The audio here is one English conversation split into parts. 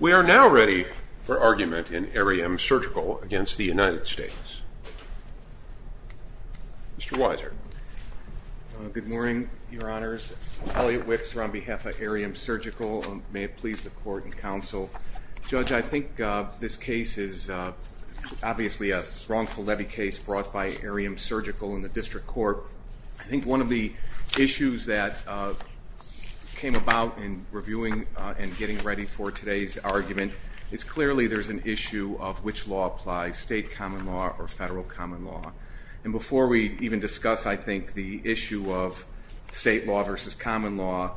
We are now ready for argument in Ariem Surgical against the United States. Mr. Weiser. Good morning, your honors. Elliot Wicks on behalf of Ariem Surgical. May it please the court and counsel. Judge, I think this case is obviously a wrongful levy case brought by Ariem Surgical and the district court. I think one of the issues that came about in reviewing and getting ready for today's argument is clearly there's an issue of which law applies, state common law or federal common law. And before we even discuss, I think, the issue of state law versus common law,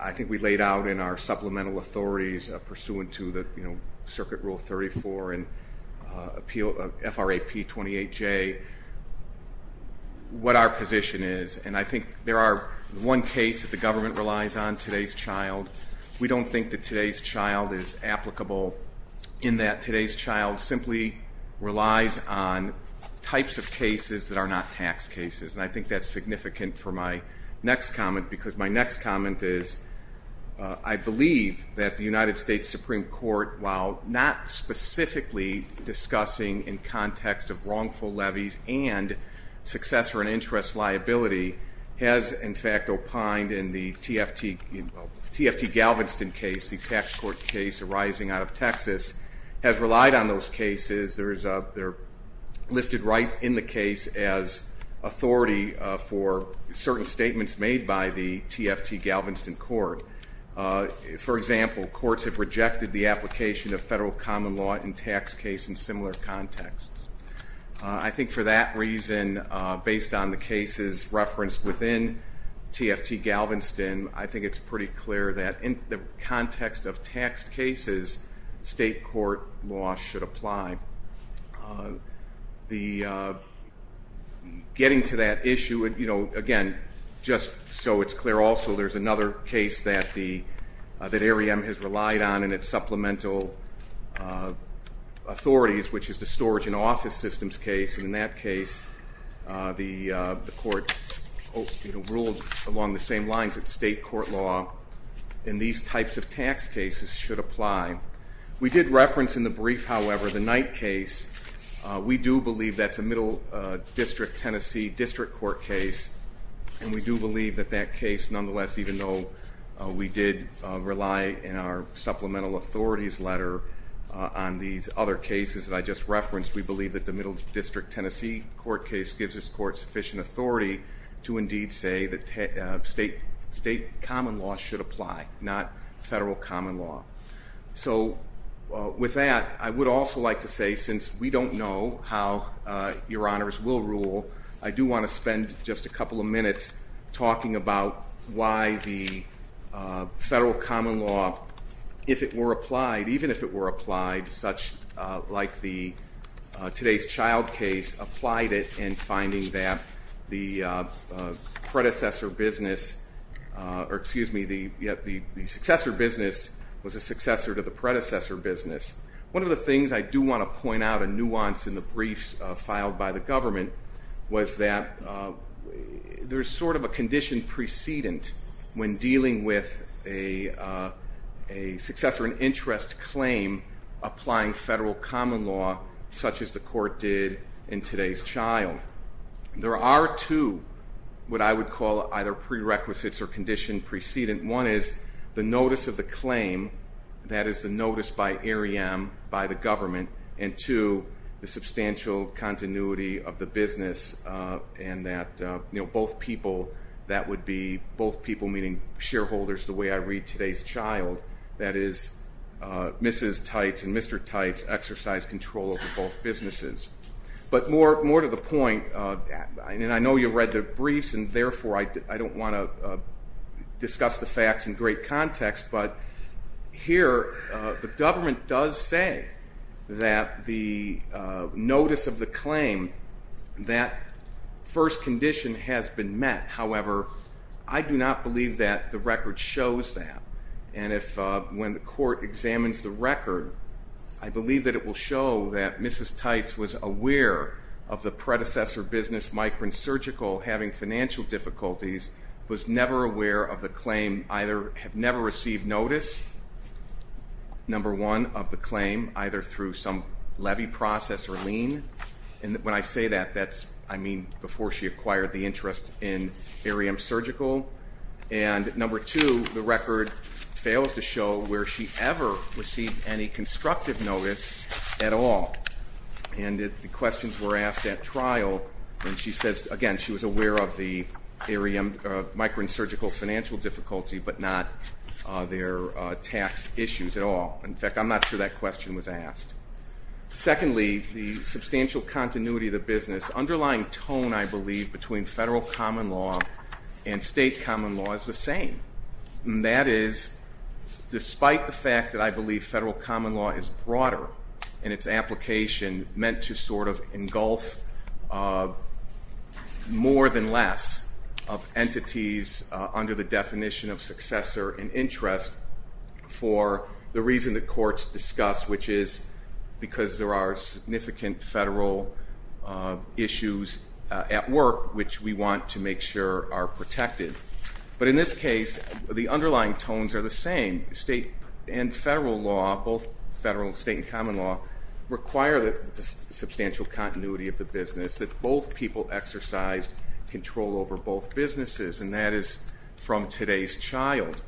I think we laid out in our supplemental authorities pursuant to Circuit Rule 34 and FRAP 28J what our position is. And I think there are one case that the government relies on today's child. We don't think that today's child is applicable in that today's child simply relies on types of cases that are not tax cases. And I think that's significant for my next comment, because my next comment is I believe that the United States Supreme Court, while not specifically discussing in context of wrongful levies and successor and interest liability, has, in fact, opined in the TFT Galveston case, the tax court case arising out of Texas, has relied on those cases. They're listed right in the case as authority for certain statements made by the TFT Galveston court. For example, courts have rejected the application of federal common law in tax case in similar contexts. I think for that reason, based on the cases referenced within TFT Galveston, I think it's pretty clear that in the context of tax cases, state court law should apply. The getting to that issue, again, just so it's clear also, there's another case that AREM has relied on in its supplemental authorities, which is the storage and office systems case. And in that case, the court ruled along the same lines that state court law in these types of tax cases should apply. We did reference in the brief, however, the Knight case. We do believe that's a middle district Tennessee district court case. And we do believe that that case, nonetheless, even though we did rely in our supplemental authorities letter on these other cases that I just referenced, we believe that the middle district Tennessee court case gives this court sufficient authority to indeed say that state common law should apply, not federal common law. So with that, I would also like to say, since we don't know how Your Honors will rule, I do want to spend just a couple of minutes talking about why the federal common law, if it were applied, even if it were applied, such like today's child case, applied it in finding that the predecessor business, or excuse me, the successor business was a successor to the predecessor business. One of the things I do want to point out in nuance in the briefs filed by the government was that there's sort of a condition precedent when dealing with a successor, an interest claim applying federal common law, such as the court did in today's child. There are two, what I would call either prerequisites or condition precedent. One is the notice of the claim, that is the notice by AREM, by the government. And two, the substantial continuity of the business, and that both people, that would be both people meaning shareholders, the way I read today's child, that is Mrs. Tights and Mr. Tights exercise control over both businesses. But more to the point, and I know you read the briefs, and therefore I don't want to discuss the facts in great context. But here, the government does say that the notice of the claim, that first condition has been met. However, I do not believe that the record shows that. And if when the court examines the record, I believe that it will show that Mrs. Tights was aware of the predecessor business, Micron Surgical, having financial difficulties, was never aware of the claim, either have never received notice, number one, of the claim, either through some levy process or lien. And when I say that, that's, I mean, before she acquired the interest in AREM Surgical. And number two, the record fails to show where she ever received any constructive notice at all. And the questions were asked at trial, and she says, again, she was aware of the AREM, Micron Surgical financial difficulty, but not their tax issues at all. In fact, I'm not sure that question was asked. Secondly, the substantial continuity of the business. Underlying tone, I believe, between federal common law and state common law is the same. And that is, despite the fact that I believe federal common law is broader in its application, meant to sort of engulf more than less of entities under the definition of successor and interest for the reason that courts discuss, which is because there are significant federal issues at work, which we want to make sure are protected. But in this case, the underlying tones are the same. State and federal law, both federal and state and common law, require the substantial continuity of the business, that both people exercise control over both businesses. And that is from today's child.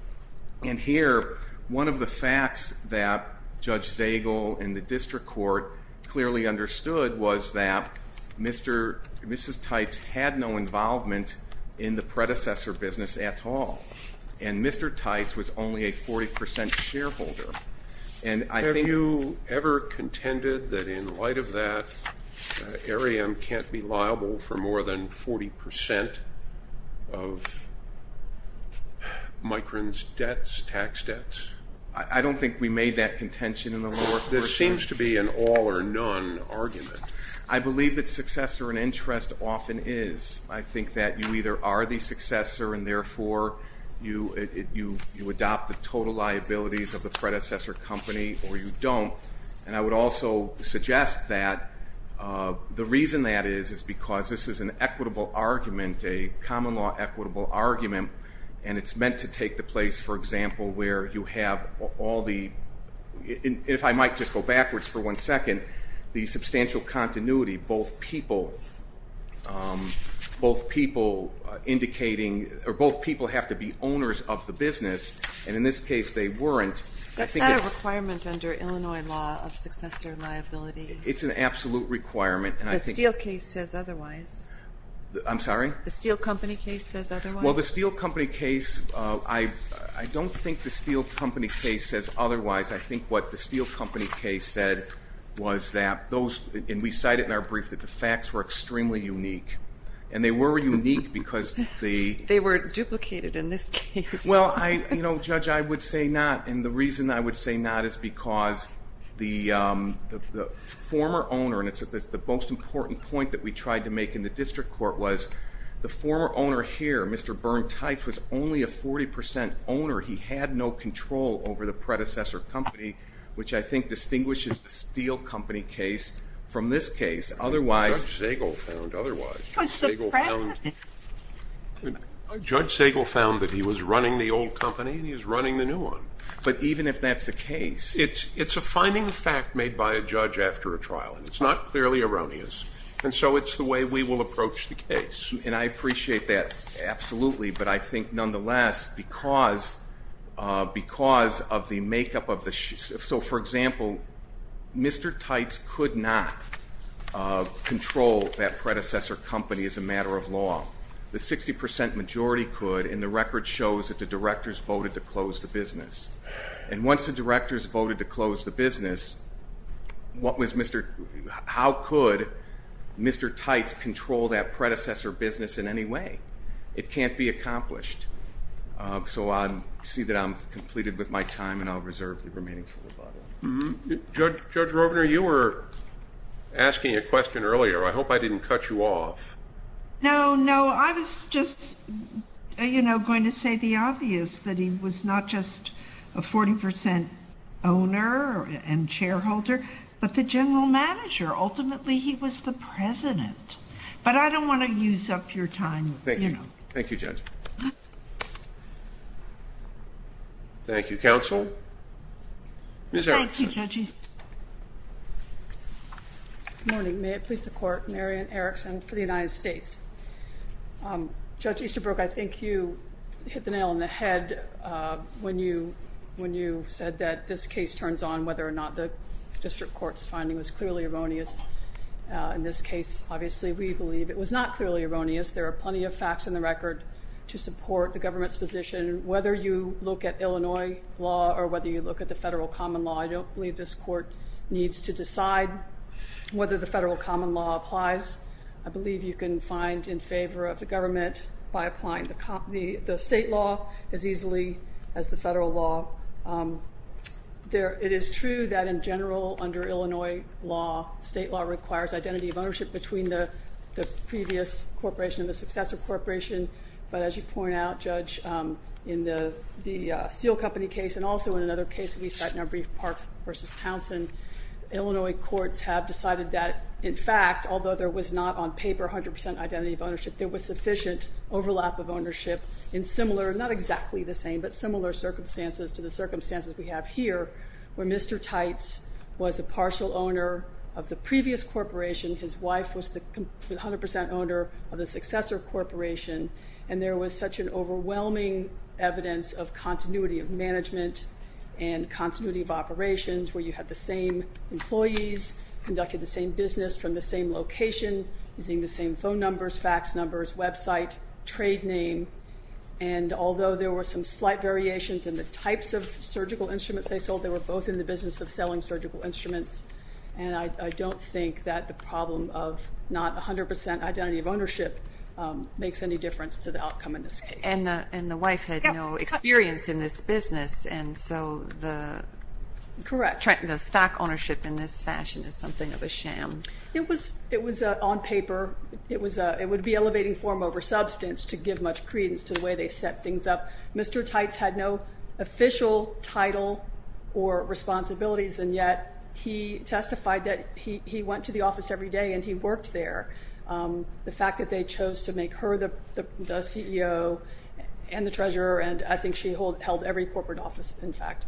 And here, one of the facts that Judge Zagel in the district court clearly understood was that Mrs. Tights had no involvement in the predecessor business at all. And Mr. Tights was only a 40% shareholder. And I think you ever contended that in light of that AREM can't be liable for more than 40% of Micron's tax debts? I don't think we made that contention in the law. There seems to be an all or none argument. I believe that successor and interest often is. I think that you either are the successor, and therefore you adopt the total liabilities of the predecessor company, or you don't. And I would also suggest that the reason that is, is because this is an equitable argument, a common law equitable argument. And it's meant to take the place, for example, where you have all the, if I might just go backwards for one second, the substantial continuity, both people indicating, or both people have to be owners of the business. And in this case, they weren't. That's not a requirement under Illinois law of successor liability. It's an absolute requirement. The Steele case says otherwise. I'm sorry? The Steele company case says otherwise. Well, the Steele company case, I don't think the Steele company case says otherwise. I think what the Steele company case said was that those, and we cite it in our brief, that the facts were extremely unique. And they were unique because the. They were duplicated in this case. Well, judge, I would say not. And the reason I would say not is because the former owner, and it's the most important point that we tried to make in the district court, was the former owner here, Mr. Bernd Teitz, was only a 40% owner. He had no control over the predecessor company, which I think distinguishes the Steele company case from this case. Otherwise. Judge Segal found otherwise. Was the predecessor? Judge Segal found that he was running the old company and he was running the new one. But even if that's the case. It's a finding of fact made by a judge after a trial. And it's not clearly erroneous. And so it's the way we will approach the case. And I appreciate that, absolutely. But I think nonetheless, because of the makeup of the. So for example, Mr. Teitz could not control that predecessor company as a matter of law. The 60% majority could. And the record shows that the directors voted to close the business. And once the directors voted to close the business, how could Mr. Teitz control that predecessor business in any way? It can't be accomplished. So I see that I'm completed with my time and I'll reserve the remaining time. Judge Rovner, you were asking a question earlier. I hope I didn't cut you off. No, no. I was just going to say the obvious, that he was not just a 40% owner and shareholder, but the general manager. Ultimately, he was the president. But I don't want to use up your time. Thank you. Thank you, Judge. Thank you, counsel. Ms. Erickson. Thank you, Judge Easton. Good morning. May it please the court. Marian Erickson for the United States. Judge Easterbrook, I think you hit the nail on the head when you said that this case turns on whether or not the district court's finding was clearly erroneous. In this case, obviously, we believe it was not clearly erroneous. There are plenty of facts in the record to support the government's position. Whether you look at Illinois law or whether you look at the federal common law, I don't believe this court needs to decide whether the federal common law applies. I believe you can find in favor of the government by applying the state law as easily as the federal law. It is true that, in general, under Illinois law, state law requires identity of ownership between the previous corporation and the successor corporation. But as you point out, Judge, in the Steel Company case and also in another case we cite in our brief, Parks versus Townsend, Illinois courts have decided that, in fact, although there was not on paper 100% identity of ownership, there was sufficient overlap of ownership in similar, not exactly the same, but similar circumstances to the circumstances we have here, where Mr. Tights was a partial owner of the previous corporation. His wife was the 100% owner of the successor corporation. And there was such an overwhelming evidence of continuity of management and continuity of operations, where you had the same employees, conducted the same business from the same location, using the same phone numbers, fax numbers, website, trade name. And although there were some slight variations in the types of surgical instruments they sold, they were both in the business of selling surgical instruments. And I don't think that the problem of not 100% identity of ownership makes any difference to the outcome in this case. And the wife had no experience in this business. And so the stock ownership in this fashion is something of a sham. It was on paper. It would be elevating form over substance to give much credence to the way they set things up. Mr. Tights had no official title or responsibilities. And yet, he testified that he went to the office every day and he worked there. The fact that they chose to make her the CEO and the treasurer, and I think she held every corporate office, in fact,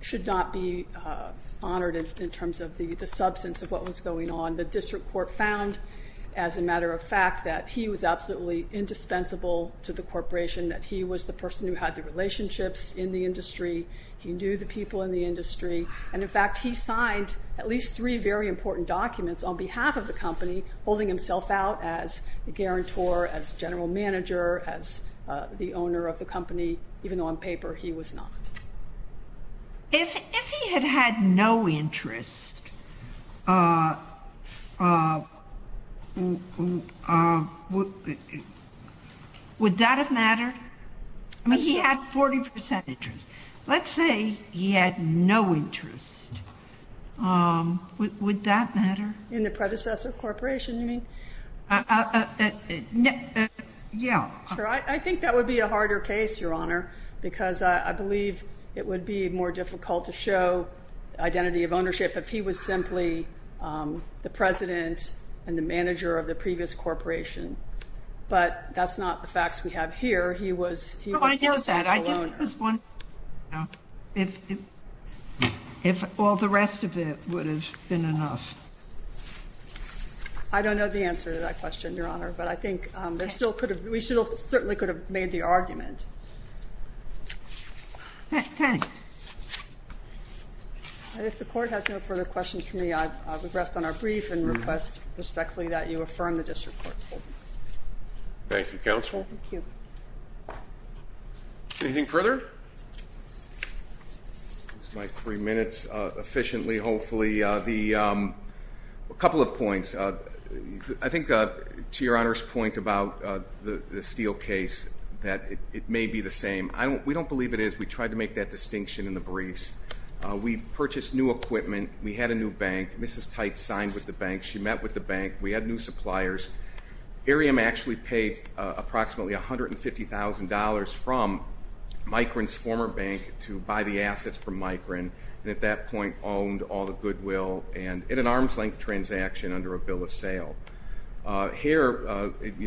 should not be honored in terms of the substance of what was going on. The district court found, as a matter of fact, that he was absolutely indispensable to the corporation, that he was the person who had the relationships in the industry. He knew the people in the industry. And in fact, he signed at least three very important documents on behalf of the company, holding himself out as a guarantor, as general manager, as the owner of the company, even though on paper he was not. If he had had no interest, would that have mattered? I mean, he had 40% interest. Let's say he had no interest. Would that matter? In the predecessor corporation, you mean? Yeah. Sure. I think that would be a harder case, Your Honor, because I believe it would be more difficult to show identity of ownership if he was simply the president and the manager of the previous corporation. But that's not the facts we have here. He was the actual owner. Oh, I know that. I think it was one thing, if all the rest of it has been enough. I don't know the answer to that question, Your Honor. But I think we certainly could have made the argument. If the court has no further questions for me, I would rest on our brief and request respectfully that you affirm the district court's holding. Thank you, counsel. Thank you. Anything further? I'll use my three minutes efficiently, hopefully. A couple of points. I think, to Your Honor's point about the Steele case, that it may be the same. We don't believe it is. We tried to make that distinction in the briefs. We purchased new equipment. We had a new bank. Mrs. Tite signed with the bank. She met with the bank. We had new suppliers. Arium actually paid approximately $150,000 from Micron's former bank to buy the assets from Micron, and at that point, owned all the goodwill and in an arm's length transaction under a bill of sale. I think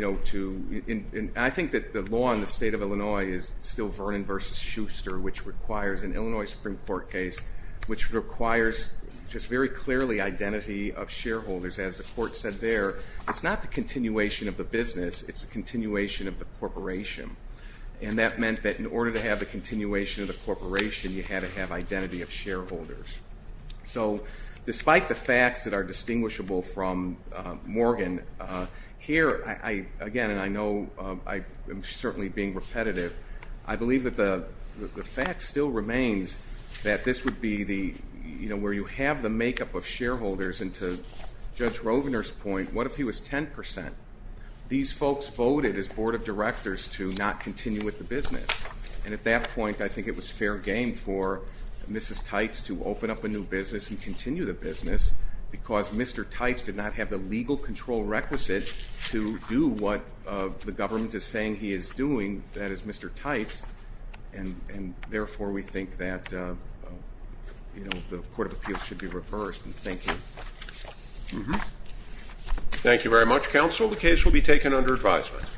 that the law in the state of Illinois is still Vernon versus Schuster, which requires an Illinois Supreme Court case, which requires just very clearly identity of shareholders. As the court said there, it's not the continuation of the business. It's the continuation of the corporation. And that meant that in order to have the continuation of the corporation, you had to have identity of shareholders. So despite the facts that are distinguishable from Morgan, here, again, and I know I am certainly being repetitive, I believe that the fact still remains that this would be where you have the makeup of shareholders. And to Judge Rovner's point, what if he was 10%? These folks voted, as board of directors, to not continue with the business. And at that point, I think it was fair game for Mrs. Tights to open up a new business and continue the business, because Mr. Tights did not have the legal control requisite to do what the government is saying he is doing, that is Mr. Tights. And therefore, we think that the Court of Appeals should be reversed. And thank you. Mm-hmm. Thank you very much, counsel. The case will be taken under advisement.